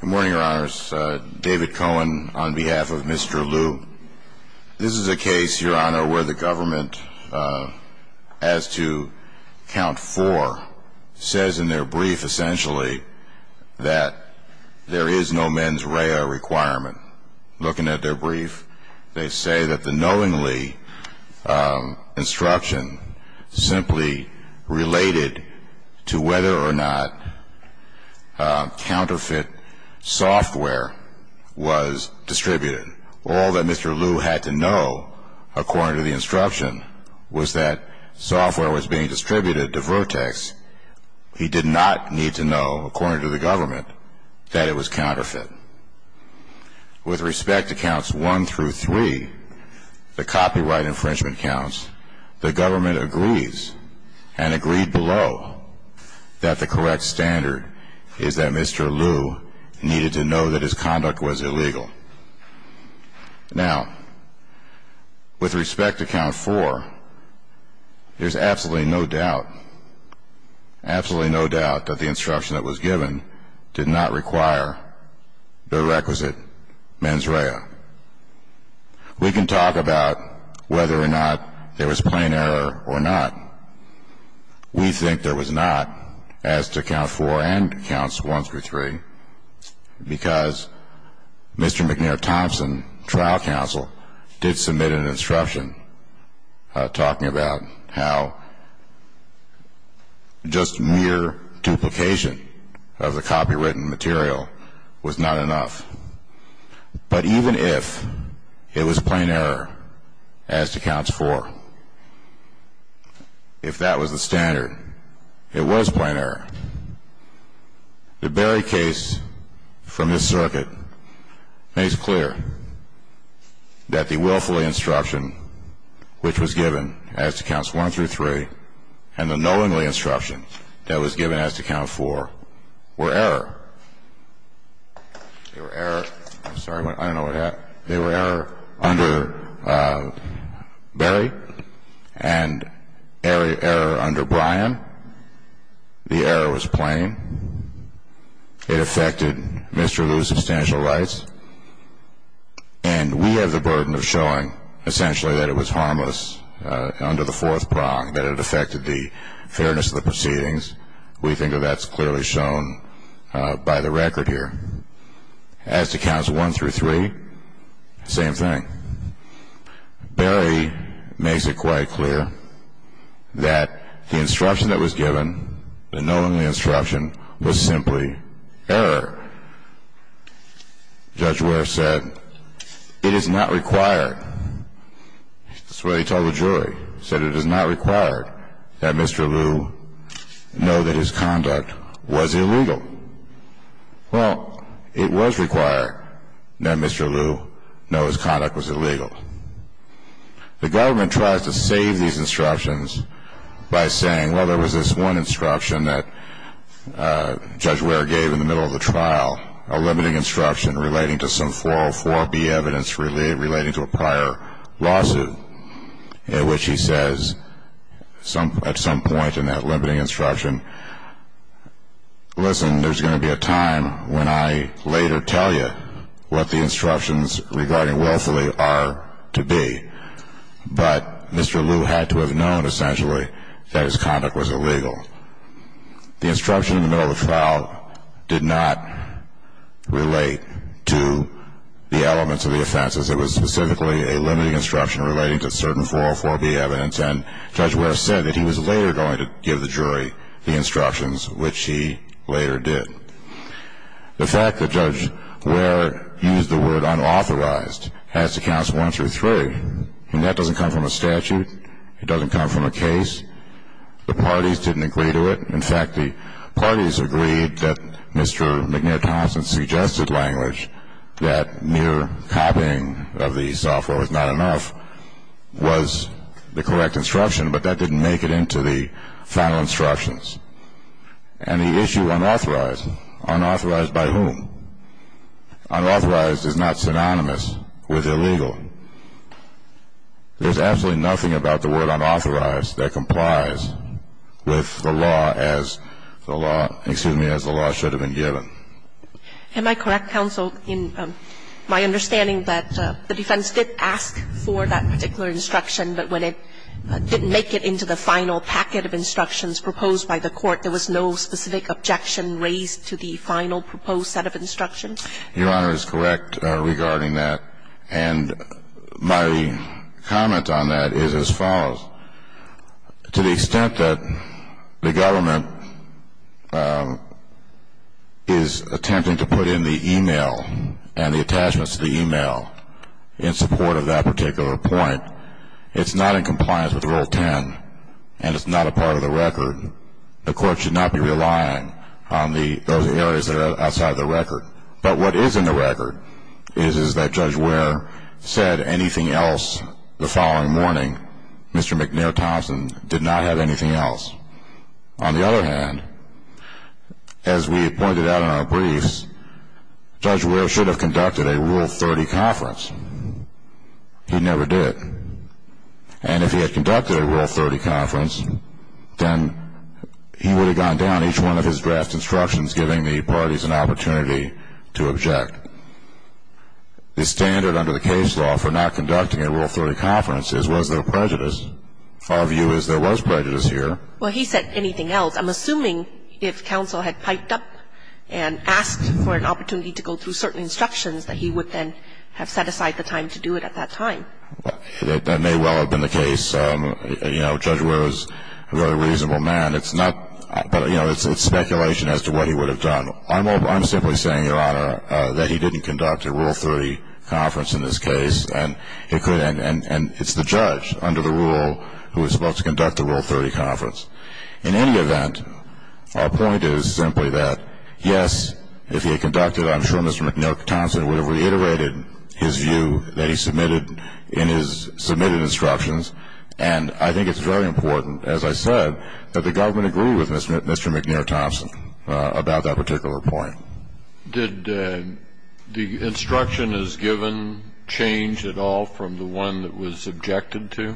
Good morning, your honors. David Cohen on behalf of Mr. Liu. This is a case, your honor, where the government, as to count four, says in their brief, essentially, that there is no mens rea requirement. Looking at their brief, they say that the knowingly instruction simply related to whether or not counterfeit software was distributed. All that Mr. Liu had to know, according to the instruction, was that software was being distributed to Vertex. He did not need to know, according to the government, that it was counterfeit. With respect to counts one through three, the copyright infringement counts, the government agrees, and agreed below, that the correct standard is that Mr. Liu needed to know that his conduct was illegal. Now, with respect to count four, there's absolutely no doubt, absolutely no doubt, that the instruction that was given did not require the requisite mens rea. We can talk about whether or not there was plain error or not. We think there was not, as to count four and counts one through three, because Mr. McNair Thompson, trial counsel, did submit an instruction talking about how just mere duplication of the copywritten material was not enough. But even if it was plain error, as to counts four, if that was the standard, it was plain error. The Berry case, from his circuit, makes clear that the willfully instruction which was given, as to counts one through three, and the knowingly instruction that was given as to count four, were error. They were error under Berry, and error under Bryan. The error was plain. It affected Mr. Liu's substantial rights, and we have the burden of showing, essentially, that it was harmless under the fourth prong, that it affected the fairness of the proceedings. We think that that's clearly shown by the record here. As to counts one through three, same thing. Berry makes it quite clear that the instruction that was given, the knowingly instruction, was simply error. Judge Ware said, it is not required. That's what he told the jury. He said, it is not required that Mr. Liu know that his conduct was illegal. Well, it was required that Mr. Liu know his conduct was illegal. The government tries to save these instructions by saying, well, there was this one instruction that Judge Ware gave in the middle of the trial, a limiting instruction relating to some 404B evidence relating to a prior lawsuit, at which he says, at some point in that limiting instruction, listen, there's going to be a time when I later tell you what the instructions regarding willfully are to be. But Mr. Liu had to have known, essentially, that his conduct was illegal. The instruction in the middle of the trial did not relate to the elements of the offenses. It was specifically a limiting instruction relating to certain 404B evidence, and Judge Ware said that he was later going to give the jury the instructions, which he later did. The fact that Judge Ware used the word unauthorized as to counts one through three, and that doesn't come from a statute. It doesn't come from a case. The parties didn't agree to it. In fact, the parties agreed that Mr. McNair Thompson suggested language, that mere copying of the software was not enough, was the correct instruction, but that didn't make it into the final instructions. And the issue unauthorized, unauthorized by whom? Unauthorized is not synonymous with illegal. There's absolutely nothing about the word unauthorized that complies with the law as the law, excuse me, as the law should have been given. Am I correct, counsel, in my understanding that the defense did ask for that particular instruction, but when it didn't make it into the final packet of instructions proposed by the court, there was no specific objection raised to the final proposed set of instructions? Your Honor is correct regarding that, and my comment on that is as follows. To the extent that the government is attempting to put in the e-mail and the attachments to the e-mail in support of that particular point, it's not in compliance with Rule 10, and it's not a part of the record. The court should not be relying on those areas that are outside the record. But what is in the record is that Judge Ware said anything else the following morning. Mr. McNair Thompson did not have anything else. On the other hand, as we had pointed out in our briefs, Judge Ware should have conducted a Rule 30 conference. He never did. And if he had conducted a Rule 30 conference, then he would have gone down each one of his draft instructions giving the parties an opportunity to object. The standard under the case law for not conducting a Rule 30 conference is was there prejudice? Our view is there was prejudice here. Well, he said anything else. I'm assuming if counsel had piped up and asked for an opportunity to go through certain instructions that he would then have set aside the time to do it at that time. That may well have been the case. You know, Judge Ware is a very reasonable man. It's not, you know, it's speculation as to what he would have done. I'm simply saying, Your Honor, that he didn't conduct a Rule 30 conference in this case, and it's the judge under the rule who is supposed to conduct the Rule 30 conference. In any event, our point is simply that, yes, if he had conducted it, I'm sure Mr. McNair Thompson would have reiterated his view that he submitted in his submitted instructions. And I think it's very important, as I said, that the government agree with Mr. McNair Thompson about that particular point. Did the instruction as given change at all from the one that was objected to?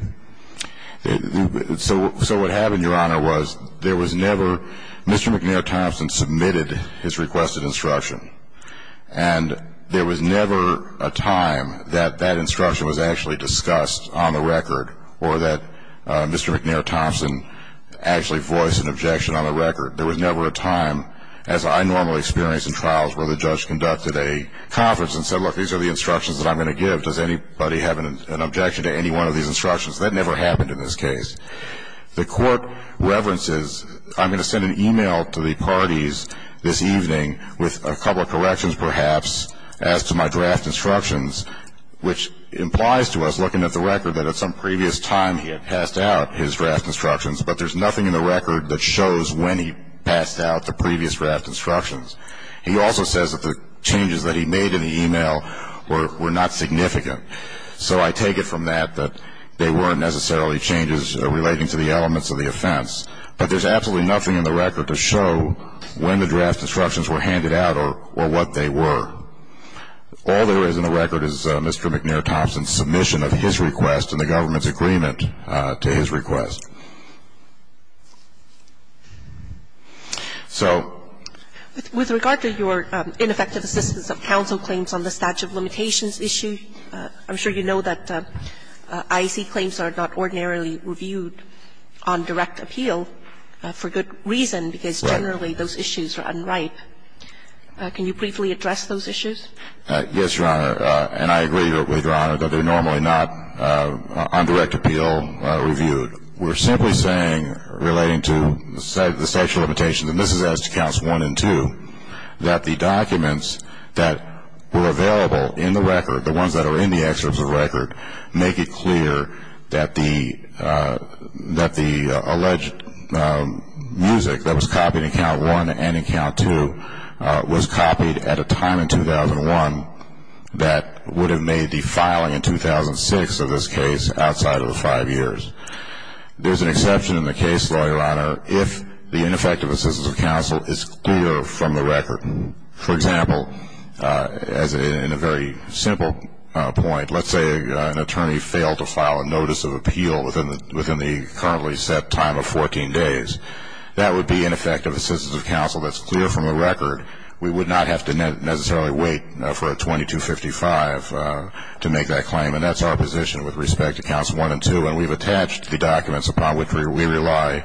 So what happened, Your Honor, was there was never Mr. McNair Thompson submitted his requested instruction, and there was never a time that that instruction was actually discussed on the record or that Mr. McNair Thompson actually voiced an objection on the record. There was never a time, as I normally experience in trials, where the judge conducted a conference and said, look, these are the instructions that I'm going to give. Does anybody have an objection to any one of these instructions? That never happened in this case. The court reverences, I'm going to send an e-mail to the parties this evening with a couple of corrections, perhaps, as to my draft instructions, which implies to us, looking at the record, that at some previous time he had passed out his draft instructions, but there's nothing in the record that shows when he passed out the previous draft instructions. He also says that the changes that he made in the e-mail were not significant. So I take it from that, that they weren't necessarily changes relating to the elements of the offense. But there's absolutely nothing in the record to show when the draft instructions were handed out or what they were. All there is in the record is Mr. McNair Thompson's submission of his request and the government's agreement to his request. So I think that's a good way to go about it. I think it's a good way to go about it. So with regard to your ineffective assistance of counsel claims on the statute of limitations issue, I'm sure you know that IAC claims are not ordinarily reviewed on direct appeal for good reason. Generally, those issues are unripe. Can you briefly address those issues? Yes, Your Honor. And I agree with Your Honor that they're normally not on direct appeal reviewed. We're simply saying, relating to the statute of limitations, and this is as to counts one and two, that the documents that were available in the record, the ones that are in the excerpts of the record, make it clear that the alleged music that was copied in count one and in count two was copied at a time in 2001 that would have made the filing in 2006 of this case outside of the five years. There's an exception in the case, Your Honor, if the ineffective assistance of counsel is clear from the record. For example, in a very simple point, let's say an attorney failed to file a notice of appeal within the currently set time of 14 days. That would be ineffective assistance of counsel that's clear from the record. We would not have to necessarily wait for a 2255 to make that claim. And that's our position with respect to counts one and two. And we've attached the documents upon which we rely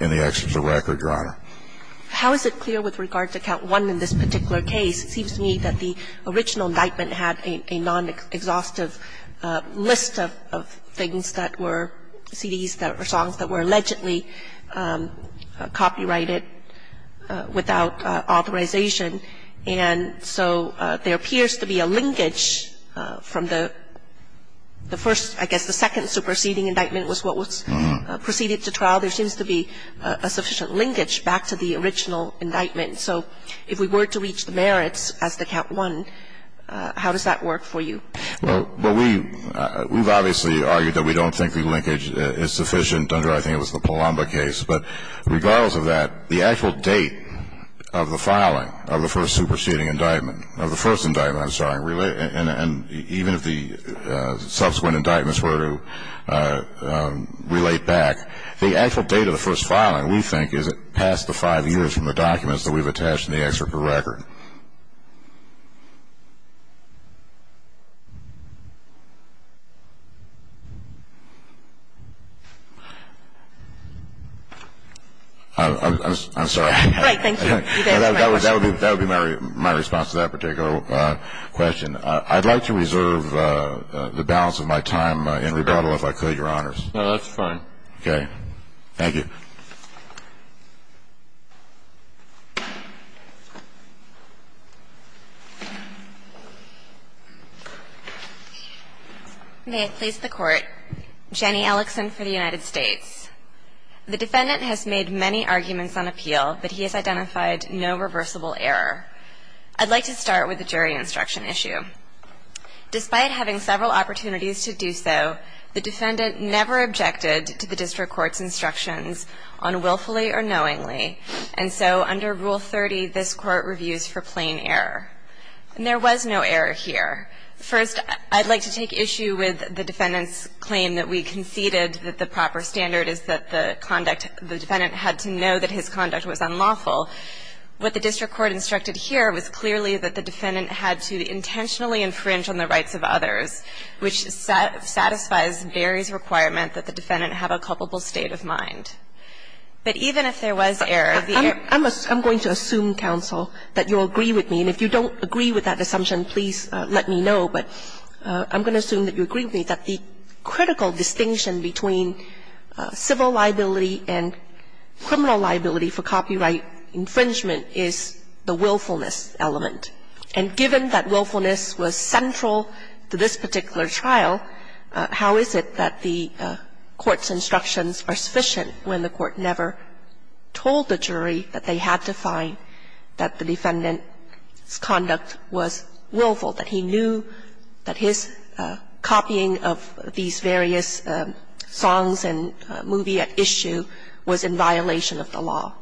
in the excerpts of the record, Your Honor. How is it clear with regard to count one in this particular case? It seems to me that the original indictment had a non-exhaustive list of things that were CDs that were songs that were allegedly copyrighted without authorization. And so there appears to be a linkage from the first, I guess the second superseding indictment was what was proceeded to trial. There seems to be a sufficient linkage back to the original indictment. So if we were to reach the merits as to count one, how does that work for you? Well, we've obviously argued that we don't think the linkage is sufficient under I think it was the Palomba case. But regardless of that, the actual date of the filing of the first superseding indictment of the first indictment, I'm sorry, and even if the subsequent indictments were to relate back, the actual date of the first filing we think is past the five years from the documents that we've attached in the excerpt of the record. I'm sorry. All right. Thank you. That would be my response to that particular question. I'd like to reserve the balance of my time in rebuttal if I could, Your Honors. No, that's fine. Okay. Thank you. May it please the Court. Jenny Ellickson for the United States. The defendant has made many arguments on appeal, but he has identified no reversible error. I'd like to start with the jury instruction issue. Despite having several opportunities to do so, the defendant never objected to the district court's instructions on willfully or knowingly. And so under Rule 30, this Court reviews for plain error. And there was no error here. First, I'd like to take issue with the defendant's claim that we conceded that the proper standard is that the conduct, the defendant had to know that his conduct was unlawful. What the district court instructed here was clearly that the defendant had to intentionally infringe on the rights of others, which satisfies Barry's requirement that the defendant have a culpable state of mind. But even if there was error, the error was unlawful. I'm going to assume, counsel, that you'll agree with me. And if you don't agree with that assumption, please let me know. But I'm going to assume that you agree with me that the critical distinction between civil liability and criminal liability for copyright infringement is the willfulness element. And given that willfulness was central to this particular trial, how is it that the Court's instructions are sufficient when the Court never told the jury that they had to find that the defendant's conduct was willful, that he knew that his copying of these various songs and movie at issue was in violation of the law?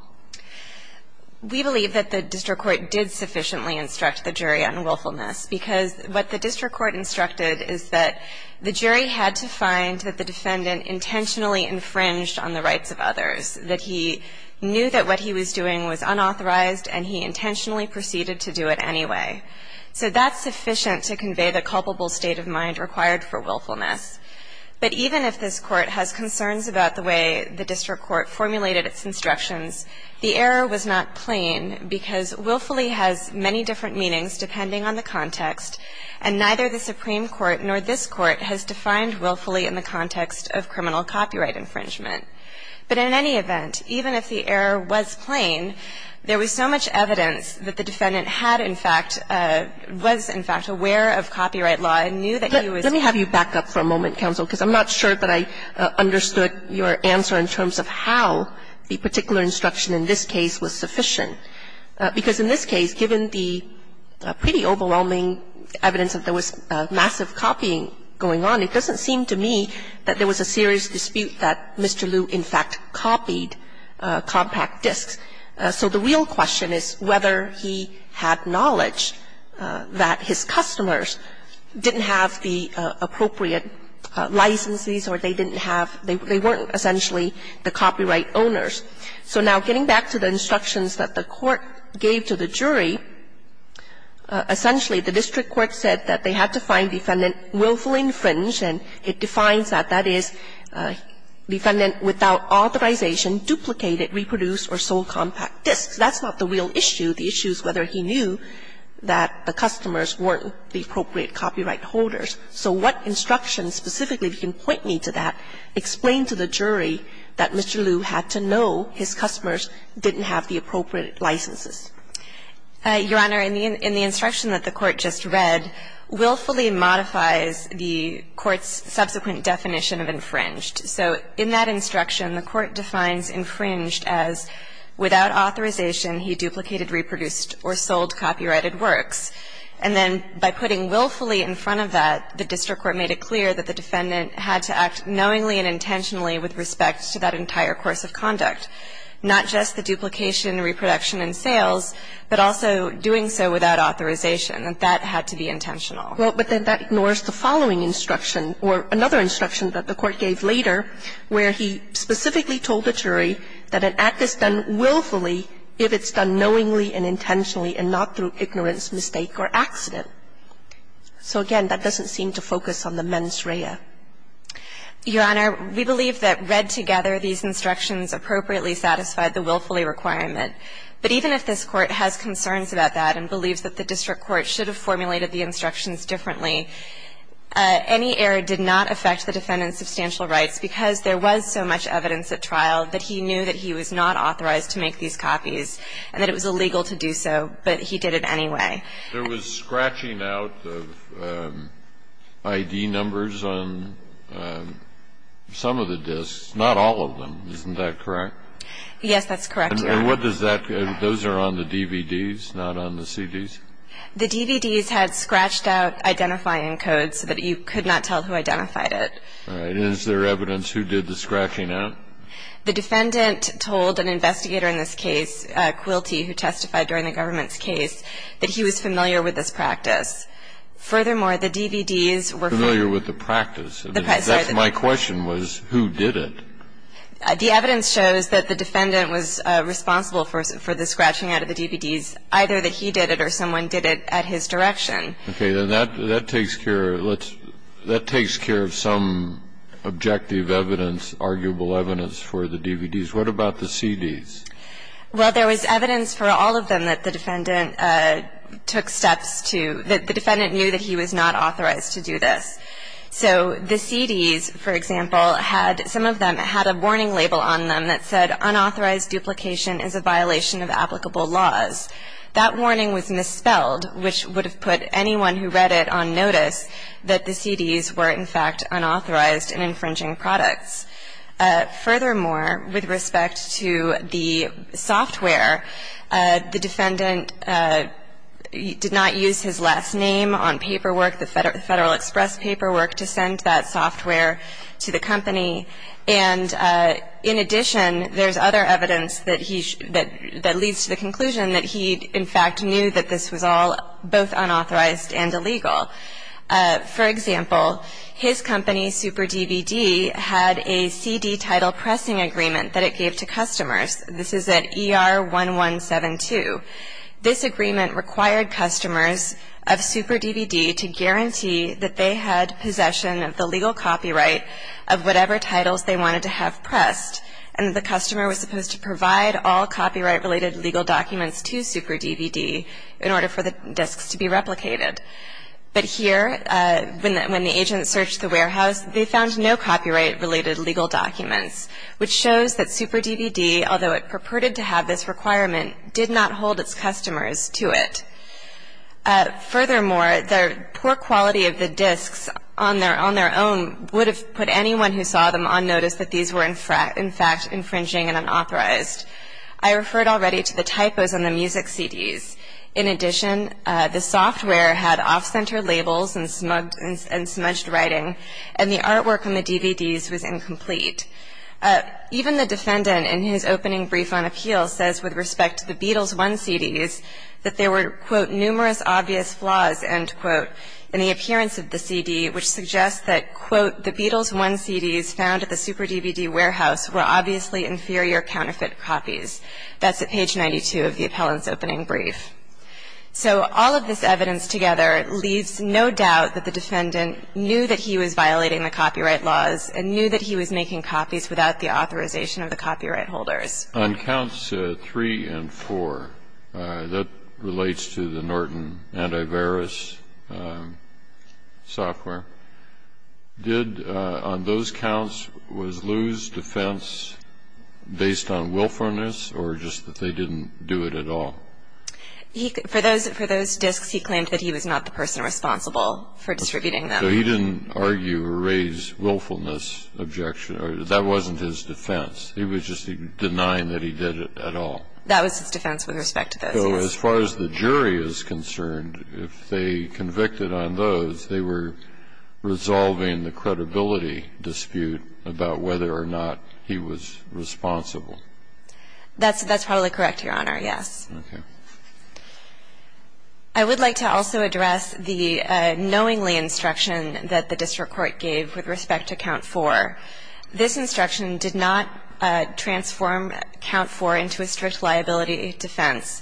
We believe that the district court did sufficiently instruct the jury on willfulness. Because what the district court instructed is that the jury had to find that the defendant intentionally infringed on the rights of others, that he knew that what he was doing was unauthorized, and he intentionally proceeded to do it anyway. So that's sufficient to convey the culpable state of mind required for willfulness. But even if this Court has concerns about the way the district court formulated its instructions, the error was not plain because willfully has many different meanings depending on the context, and neither the Supreme Court nor this Court has defined willfully in the context of criminal copyright infringement. But in any event, even if the error was plain, there was so much evidence that the defendant was, in fact, aware of copyright law and knew that he was doing it. Let me have you back up for a moment, counsel, because I'm not sure that I understood your answer in terms of how the particular instruction in this case was sufficient. Because in this case, given the pretty overwhelming evidence that there was massive copying going on, it doesn't seem to me that there was a serious dispute that Mr. Gershengorn had with the district court. I mean, the district court said that his customers didn't have the appropriate licenses or they didn't have they weren't essentially the copyright owners. So now getting back to the instructions that the court gave to the jury, essentially the district court said that they had to find defendant willfully infringed, and it defines that, that is, defendant without authorization, duplicated, reproduced, or sold compact discs. That's not the real issue. The issue is whether he knew that the customers weren't the appropriate copyright holders. So what instructions specifically, if you can point me to that, explain to the jury that Mr. Liu had to know his customers didn't have the appropriate licenses? Your Honor, in the instruction that the Court just read, willfully modifies the Court's subsequent definition of infringed. So in that instruction, the Court defines infringed as without authorization he duplicated, reproduced, or sold copyrighted works. And then by putting willfully in front of that, the district court made it clear that the defendant had to act knowingly and intentionally with respect to that entire course of conduct, not just the duplication, reproduction, and sales, but also doing so without authorization, that that had to be intentional. Well, but then that ignores the following instruction, or another instruction that the Court gave later, where he specifically told the jury that an act is done willfully if it's done knowingly and intentionally and not through ignorance, mistake, or accident. So again, that doesn't seem to focus on the mens rea. Your Honor, we believe that read together, these instructions appropriately satisfy the willfully requirement. But even if this Court has concerns about that and believes that the district court should have formulated the instructions differently, any error did not affect the defendant's substantial rights, because there was so much evidence at trial that he knew that he was not authorized to make these copies and that it was illegal to do so, but he did it anyway. There was scratching out of ID numbers on some of the disks, not all of them. Isn't that correct? Yes, that's correct, Your Honor. And what does that do? Those are on the DVDs, not on the CDs? The DVDs had scratched out identifying codes so that you could not tell who identified it. All right. Is there evidence who did the scratching out? The defendant told an investigator in this case, Quilty, who testified during the government's case, that he was familiar with this practice. Furthermore, the DVDs were familiar with the practice. That's my question, was who did it? The evidence shows that the defendant was responsible for the scratching out of the So, I think it's possible that someone did it at his direction. Okay. Then that takes care of some objective evidence, arguable evidence for the DVDs. What about the CDs? Well, there was evidence for all of them that the defendant took steps to the defendant knew that he was not authorized to do this. So, the CDs, for example, had some of them had a warning label on them that said unauthorized duplication is a violation of applicable laws. That warning was misspelled, which would have put anyone who read it on notice that the CDs were, in fact, unauthorized and infringing products. Furthermore, with respect to the software, the defendant did not use his last name on paperwork, the Federal Express paperwork, to send that software to the company. And, in addition, there's other evidence that leads to the conclusion that he, in fact, knew that this was all both unauthorized and illegal. For example, his company, Super DVD, had a CD title pressing agreement that it gave to customers. This is at ER 1172. This agreement required customers of Super DVD to guarantee that they had possession of the legal copyright of whatever titles they wanted to have pressed. And the customer was supposed to provide all copyright-related legal documents to Super DVD in order for the discs to be replicated. But here, when the agent searched the warehouse, they found no copyright-related legal documents, which shows that Super DVD, although it purported to have this requirement, did not hold its customers to it. Furthermore, the poor quality of the discs on their own would have put anyone who saw them on notice that these were, in fact, infringing and unauthorized. I referred already to the typos on the music CDs. In addition, the software had off-center labels and smudged writing, and the artwork on the DVDs was incomplete. Even the defendant in his opening brief on appeal says with respect to the Beatles 1 CDs that there were, quote, numerous obvious flaws, end quote, in the appearance of the CD, which suggests that, quote, the Beatles 1 CDs found at the Super DVD warehouse were obviously inferior counterfeit copies. That's at page 92 of the appellant's opening brief. So all of this evidence together leaves no doubt that the defendant knew that he was violating the copyright laws and knew that he was making copies without the authorization of the copyright holders. On counts three and four, that relates to the Norton Antivirus software, did, on those counts, was Lew's defense based on willfulness or just that they didn't do it at all? For those discs, he claimed that he was not the person responsible for distributing them. So he didn't argue or raise willfulness objection, or that wasn't his defense. He was just denying that he did it at all. That was his defense with respect to those, yes. So as far as the jury is concerned, if they convicted on those, they were resolving the credibility dispute about whether or not he was responsible. That's probably correct, Your Honor, yes. Okay. I would like to also address the knowingly instruction that the district court gave with respect to count four. This instruction did not transform count four into a strict liability defense.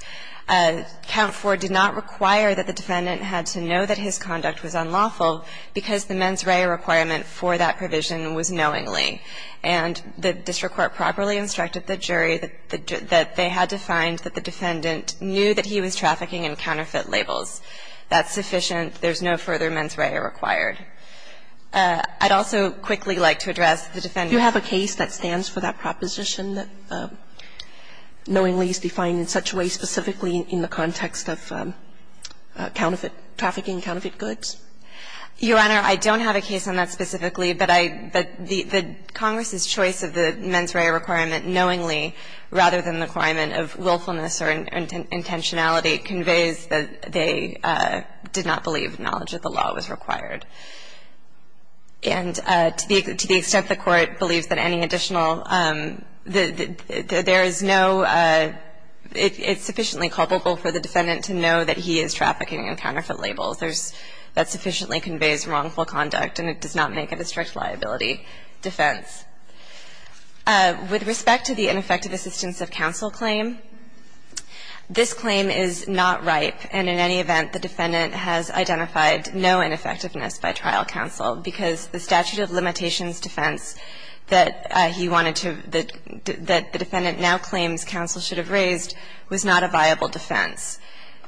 Count four did not require that the defendant had to know that his conduct was unlawful because the mens rea requirement for that provision was knowingly. And the district court properly instructed the jury that they had to find that the defendant knew that he was trafficking in counterfeit labels. That's sufficient. There's no further mens rea required. I'd also quickly like to address the defendant's case that stands for that proposition that knowingly is defined in such a way specifically in the context of counterfeit trafficking, counterfeit goods. Your Honor, I don't have a case on that specifically, but I the Congress's choice of the mens rea requirement knowingly rather than the requirement of willfulness or intentionality conveys that they did not believe knowledge that the law was required. And to the extent the Court believes that any additional there is no it's sufficiently culpable for the defendant to know that he is trafficking in counterfeit labels. There's that sufficiently conveys wrongful conduct, and it does not make it a strict liability defense. With respect to the ineffective assistance of counsel claim, this claim is not ripe, and in any event, the defendant has identified no ineffectiveness by trial counsel, because the statute of limitations defense that he wanted to the defendant now claims counsel should have raised was not a viable defense.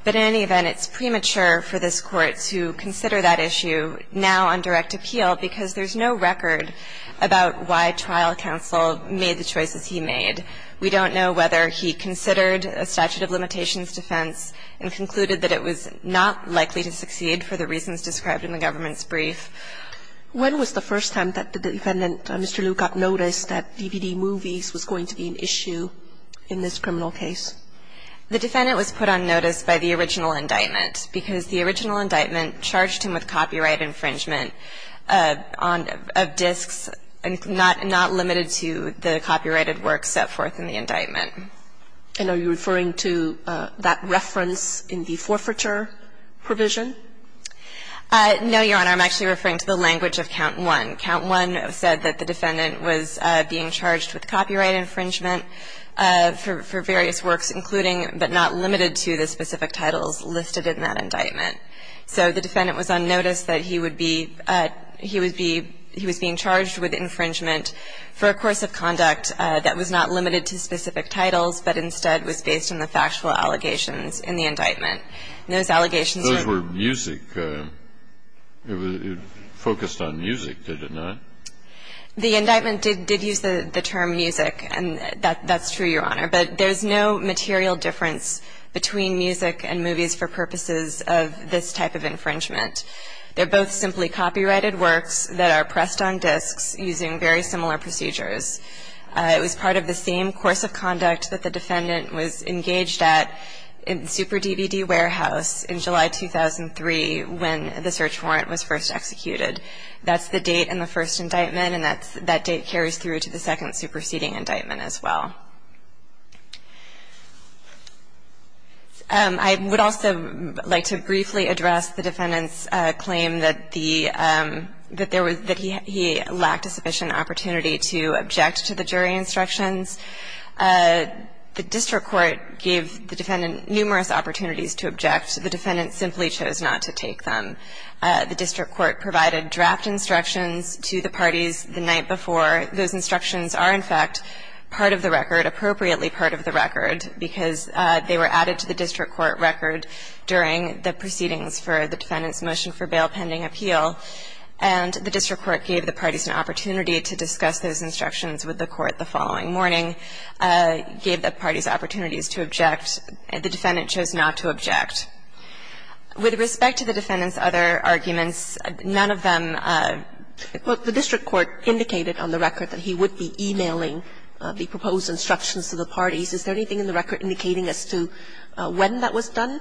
But in any event, it's premature for this Court to consider that issue now on direct appeal, because there's no record about why trial counsel made the choices he made. We don't know whether he considered a statute of limitations defense and concluded that it was not likely to succeed for the reasons described in the government's brief. When was the first time that the defendant, Mr. Liu, got notice that DVD movies was going to be an issue in this criminal case? The defendant was put on notice by the original indictment, because the original èappeal to that is that the very title of a copyright infringement had to be a knowledge of copyright infringement, and that he had to have a charge on the っ a cylindrical length of disks not limited to the copyrighted work set forth in the indictment. And are you referring to that reference in the forfeiture provision? No, Your Honor. I'm actually referring to the language of Count One. Count One had said that the defendant was being charged with copyright infringement for various works, including, but not limited to, the specific titles listed in that indictment. So the defendant was on notice that he would be, he was being charged with infringement for a course of conduct that was not limited to specific titles, but instead was based on the factual allegations in the indictment. Those allegations were ー Those were music. It was focused on music, did it not? The indictment did use the term music, and that's true, Your Honor. But there's no material difference between music and movies for purposes of this type of infringement. They're both simply copyrighted works that are pressed on disks using very similar procedures. It was part of the same course of conduct that the defendant was engaged at in Super DVD Warehouse in July 2003 when the search warrant was first executed. That's the date in the first indictment, and that date carries through to the second superseding indictment as well. I would also like to briefly address the defendant's claim that the, that there was, that he lacked a sufficient opportunity to object to the jury instructions. The district court gave the defendant numerous opportunities to object. The defendant simply chose not to take them. The district court provided draft instructions to the parties the night before. Those instructions are, in fact, part of the record, appropriately part of the record, because they were added to the district court record during the proceedings for the defendant's motion for bail pending appeal. And the district court gave the parties an opportunity to discuss those instructions with the court the following morning, gave the parties opportunities to object. The defendant chose not to object. With respect to the defendant's other arguments, none of them, the district court indicated on the record that he would be emailing the proposed instructions to the parties. Is there anything in the record indicating as to when that was done?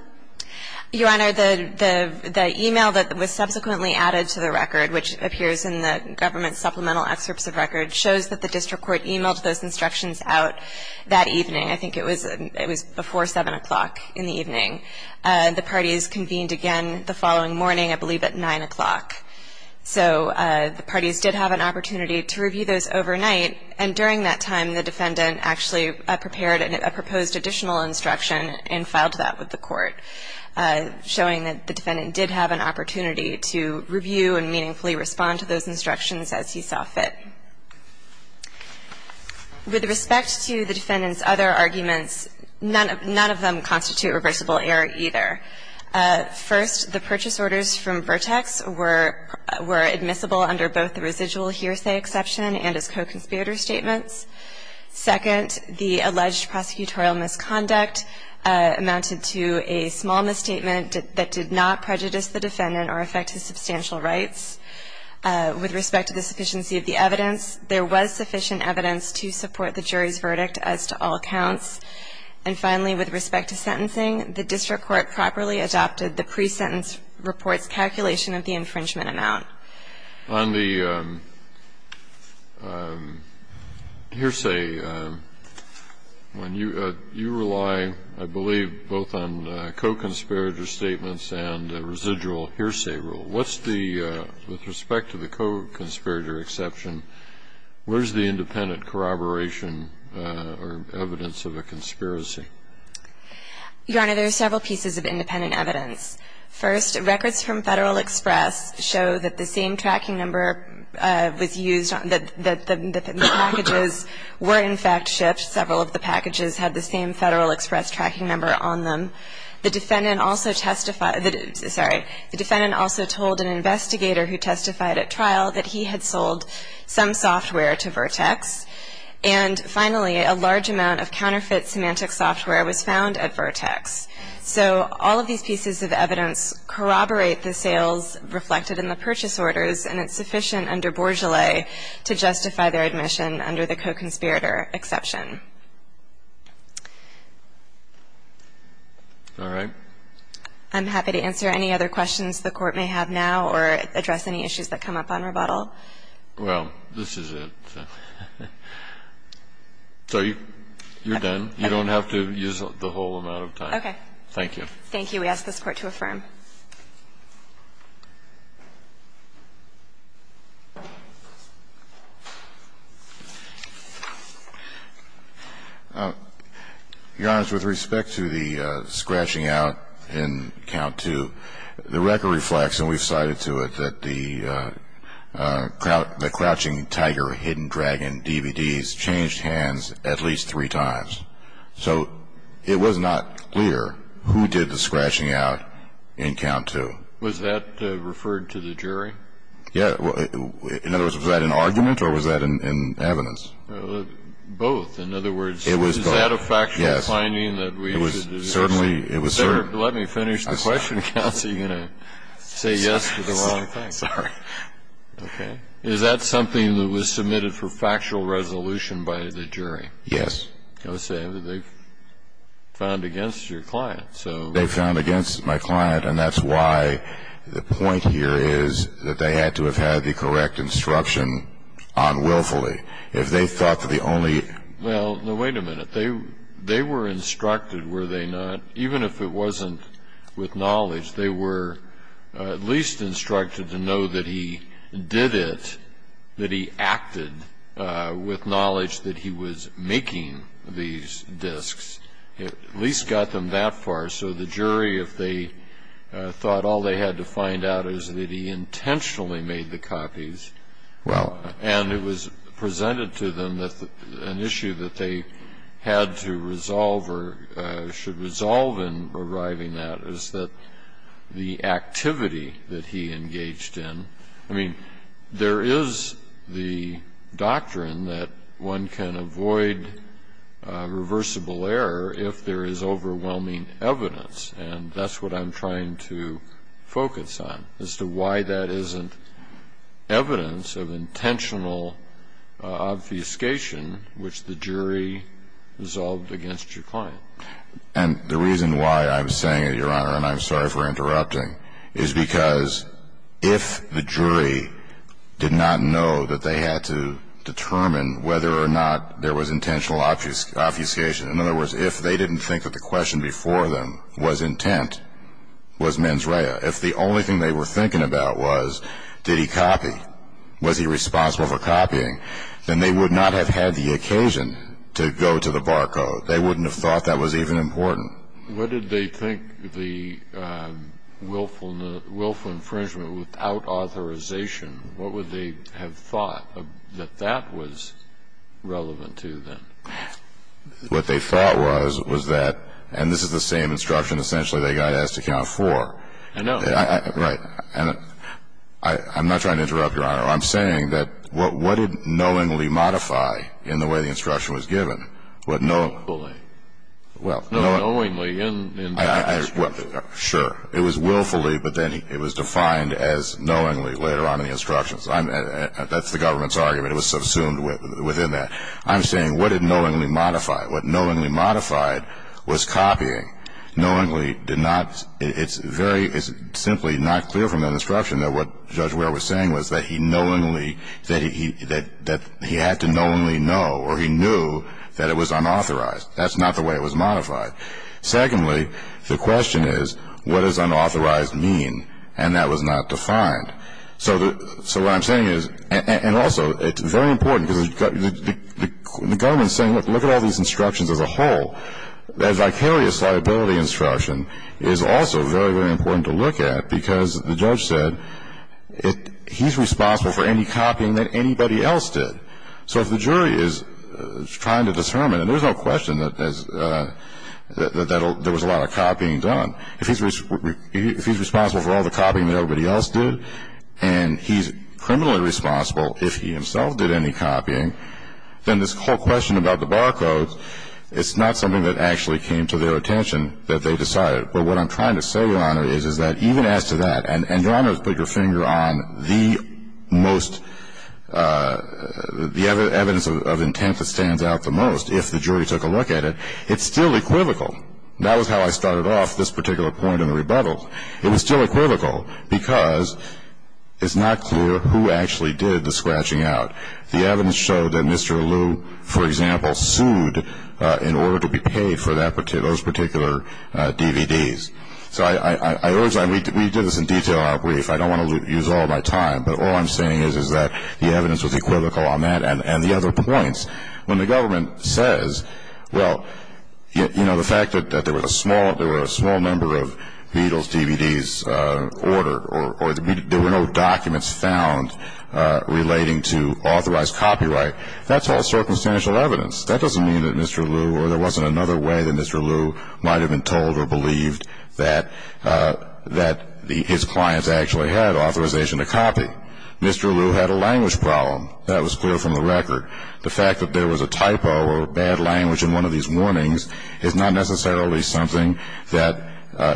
Your Honor, the, the, the email that was subsequently added to the record, which appears in the government supplemental excerpts of record, shows that the district court emailed those instructions out that evening. The parties convened again the following morning, I believe at 9 o'clock. So the parties did have an opportunity to review those overnight. And during that time, the defendant actually prepared a proposed additional instruction and filed that with the court, showing that the defendant did have an opportunity to review and meaningfully respond to those instructions as he saw fit. With respect to the defendant's other arguments, none of, none of them constitute reversible error either. First, the purchase orders from Vertex were, were admissible under both the residual hearsay exception and as co-conspirator statements. Second, the alleged prosecutorial misconduct amounted to a small misstatement that did not prejudice the defendant or affect his substantial rights. With respect to the sufficiency of the evidence, there was sufficient evidence to support the jury's verdict as to all accounts. And finally, with respect to sentencing, the district court properly adopted the pre-sentence report's calculation of the infringement amount. On the hearsay, when you, you rely, I believe, both on co-conspirator statements and residual hearsay rule. What's the, with respect to the co-conspirator exception, where's the independent corroboration or evidence of a conspiracy? Your Honor, there are several pieces of independent evidence. First, records from Federal Express show that the same tracking number was used on the, the, the packages were in fact shipped. Several of the packages had the same Federal Express tracking number on them. The defendant also testified, sorry, the defendant also told an investigator who testified at trial that he had sold some software to Vertex. And finally, a large amount of counterfeit semantic software was found at Vertex. So all of these pieces of evidence corroborate the sales reflected in the purchase orders and it's sufficient under bourgeois to justify their admission under the co-conspirator exception. All right. I'm happy to answer any other questions the Court may have now or address any issues that come up on rebuttal. Well, this is it. So you're done. You don't have to use the whole amount of time. Okay. Thank you. We ask this Court to affirm. Your Honor, with respect to the scratching out in count two, the record reflects, and we've cited to it, that the Crouching Tiger, Hidden Dragon DVDs changed hands at least three times. So it was not clear who did the scratching out in count two. Was that referred to the jury? Yeah. In other words, was that an argument or was that in evidence? Both. In other words, is that a factual finding that we should? It was certainly. Let me finish the question, Counsel. You're going to say yes to the wrong thing. Sorry. Okay. Is that something that was submitted for factual resolution by the jury? Yes. I was saying that they found against your client, so. They found against my client, and that's why the point here is that they had to have had the correct instruction unwillfully. If they thought that the only... Well, wait a minute. They were instructed, were they not? Even if it wasn't with knowledge, they were at least instructed to know that he did it, that he acted with knowledge that he was making these disks, at least got them that far. So the jury, if they thought all they had to find out is that he intentionally made the copies. Well. And it was presented to them that an issue that they had to resolve or should resolve in arriving at is that the activity that he engaged in. I mean, there is the doctrine that one can avoid reversible error if there is overwhelming evidence, and that's what I'm trying to focus on, as to why that isn't evidence of intentional obfuscation, which the jury resolved against your client. And the reason why I'm saying it, Your Honor, and I'm sorry for interrupting, is because if the jury did not know that they had to determine whether or not there was intentional obfuscation, in other words, if they didn't think that the question before them was intent, was mens rea, if the only thing they were thinking about was did he copy, was he responsible for copying, then they would not have had the occasion to go to the barcode. They wouldn't have thought that was even important. What did they think the willful infringement without authorization, what would they have thought that that was relevant to then? What they thought was, was that, and this is the same instruction essentially they got asked to count for. I know. Right. And I'm not trying to interrupt, Your Honor. I'm saying that what did knowingly modify in the way the instruction was given? What knowingly? No, knowingly in the instruction. Sure. It was willfully, but then it was defined as knowingly later on in the instructions. That's the government's argument. It was subsumed within that. I'm saying what did knowingly modify? What knowingly modified was copying. Knowingly did not, it's very, it's simply not clear from that instruction that what Judge Ware was saying was that he knowingly, that he had to knowingly know, or he knew that it was unauthorized. That's not the way it was modified. Secondly, the question is, what does unauthorized mean? And that was not defined. So what I'm saying is, and also, it's very important because the government is saying, look at all these instructions as a whole. That vicarious liability instruction is also very, very important to look at because the judge said, he's responsible for any copying that anybody else did. So if the jury is trying to determine, and there's no question that there was a lot of copying done, if he's responsible for all the copying that everybody else did, and he's criminally responsible if he himself did any copying, then this whole question about the bar codes, it's not something that actually came to their attention that they decided. But what I'm trying to say, Your Honor, is that even as to that, and Your Honor has put your finger on the most, the evidence of intent that stands out the most, if the jury took a look at it, it's still equivocal. That was how I started off this particular point in the rebuttal. It was still equivocal because it's not clear who actually did the scratching out. The evidence showed that Mr. Allu, for example, sued in order to be paid for those particular DVDs. We did this in detail in our brief. I don't want to use all my time, but all I'm saying is that the evidence was equivocal on that and the other points. When the government says, well, the fact that there were a small number of Beatles DVDs ordered, or there were no documents found relating to authorized copyright, that's all circumstantial evidence. That doesn't mean that Mr. Allu, or there wasn't another way that Mr. Allu might have been told or believed that his clients actually had authorization to copy. Mr. Allu had a language problem. That was clear from the record. The fact that there was a typo or bad language in one of these warnings is not necessarily something that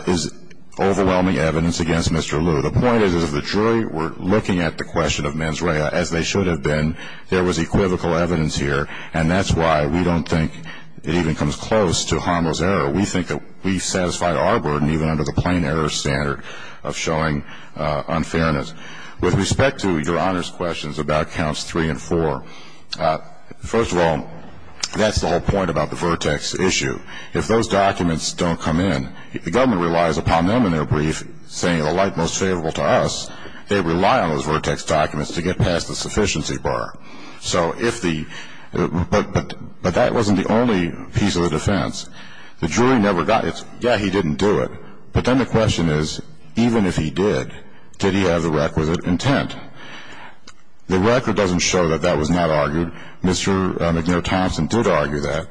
is overwhelming evidence against Mr. Allu. The point is that if the jury were looking at the question of mens rea as they should have been, there was equivocal evidence here, and that's why we don't think it even comes close to harmless error. We think that we've satisfied our burden even under the plain error standard of showing unfairness. With respect to Your Honor's questions about counts three and four, first of all, that's the whole point about the vertex issue. If those documents don't come in, the government relies upon them in their brief, saying the like most favorable to us, they rely on those vertex documents to get past the sufficiency bar. So if the ‑‑ but that wasn't the only piece of the defense. The jury never got ‑‑ yeah, he didn't do it. But then the question is, even if he did, did he have the requisite intent? The record doesn't show that that was not argued. Mr. McNair Thompson did argue that.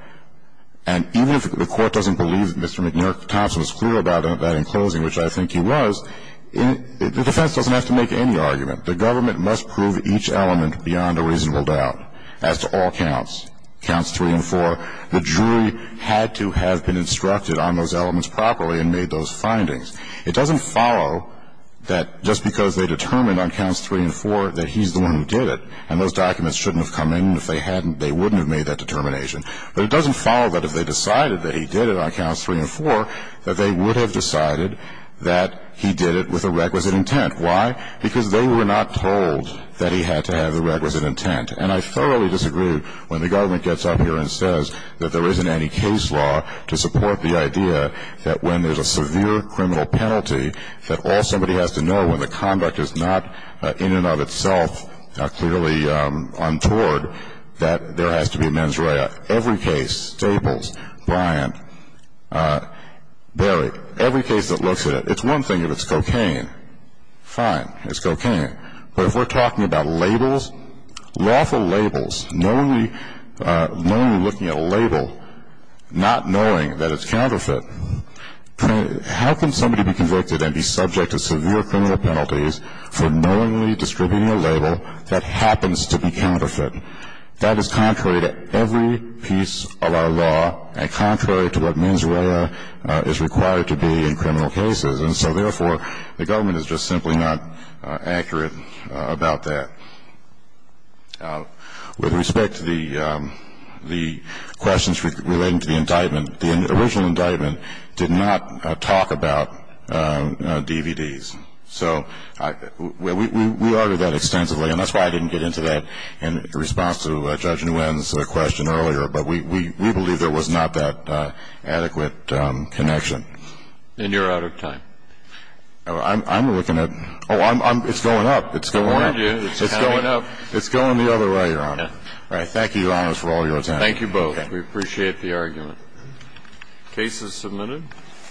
And even if the court doesn't believe that Mr. McNair Thompson was clear about that in closing, which I think he was, the defense doesn't have to make any argument. The government must prove each element beyond a reasonable doubt as to all counts, counts three and four. The jury had to have been instructed on those elements properly and made those findings. It doesn't follow that just because they determined on counts three and four that he's the one who did it and those documents shouldn't have come in if they hadn't, they wouldn't have made that determination. But it doesn't follow that if they decided that he did it on counts three and four, that they would have decided that he did it with a requisite intent. Why? Because they were not told that he had to have the requisite intent. And I thoroughly disagree when the government gets up here and says that there isn't any case law to support the idea that when there's a severe criminal penalty, that all somebody has to know when the conduct is not in and of itself clearly untoward, that there has to be a mens rea. Every case, Stables, Bryant, Berry, every case that looks at it, it's one thing if it's cocaine. Fine, it's cocaine. But if we're talking about labels, lawful labels, knowingly looking at a label, not knowing that it's counterfeit, how can somebody be convicted and be subject to severe criminal penalties for knowingly distributing a label that happens to be counterfeit? That is contrary to every piece of our law and contrary to what mens rea is required to be in criminal cases. And so, therefore, the government is just simply not accurate about that. With respect to the questions relating to the indictment, the original indictment did not talk about DVDs. So we argued that extensively, and that's why I didn't get into that in response to Judge Nguyen's question earlier. But we believe there was not that adequate connection. And you're out of time. I'm looking at – oh, it's going up. It's going up. It's going up. It's going the other way, Your Honor. All right. Thank you, Your Honors, for all your attention. Thank you both. We appreciate the argument. The case is submitted.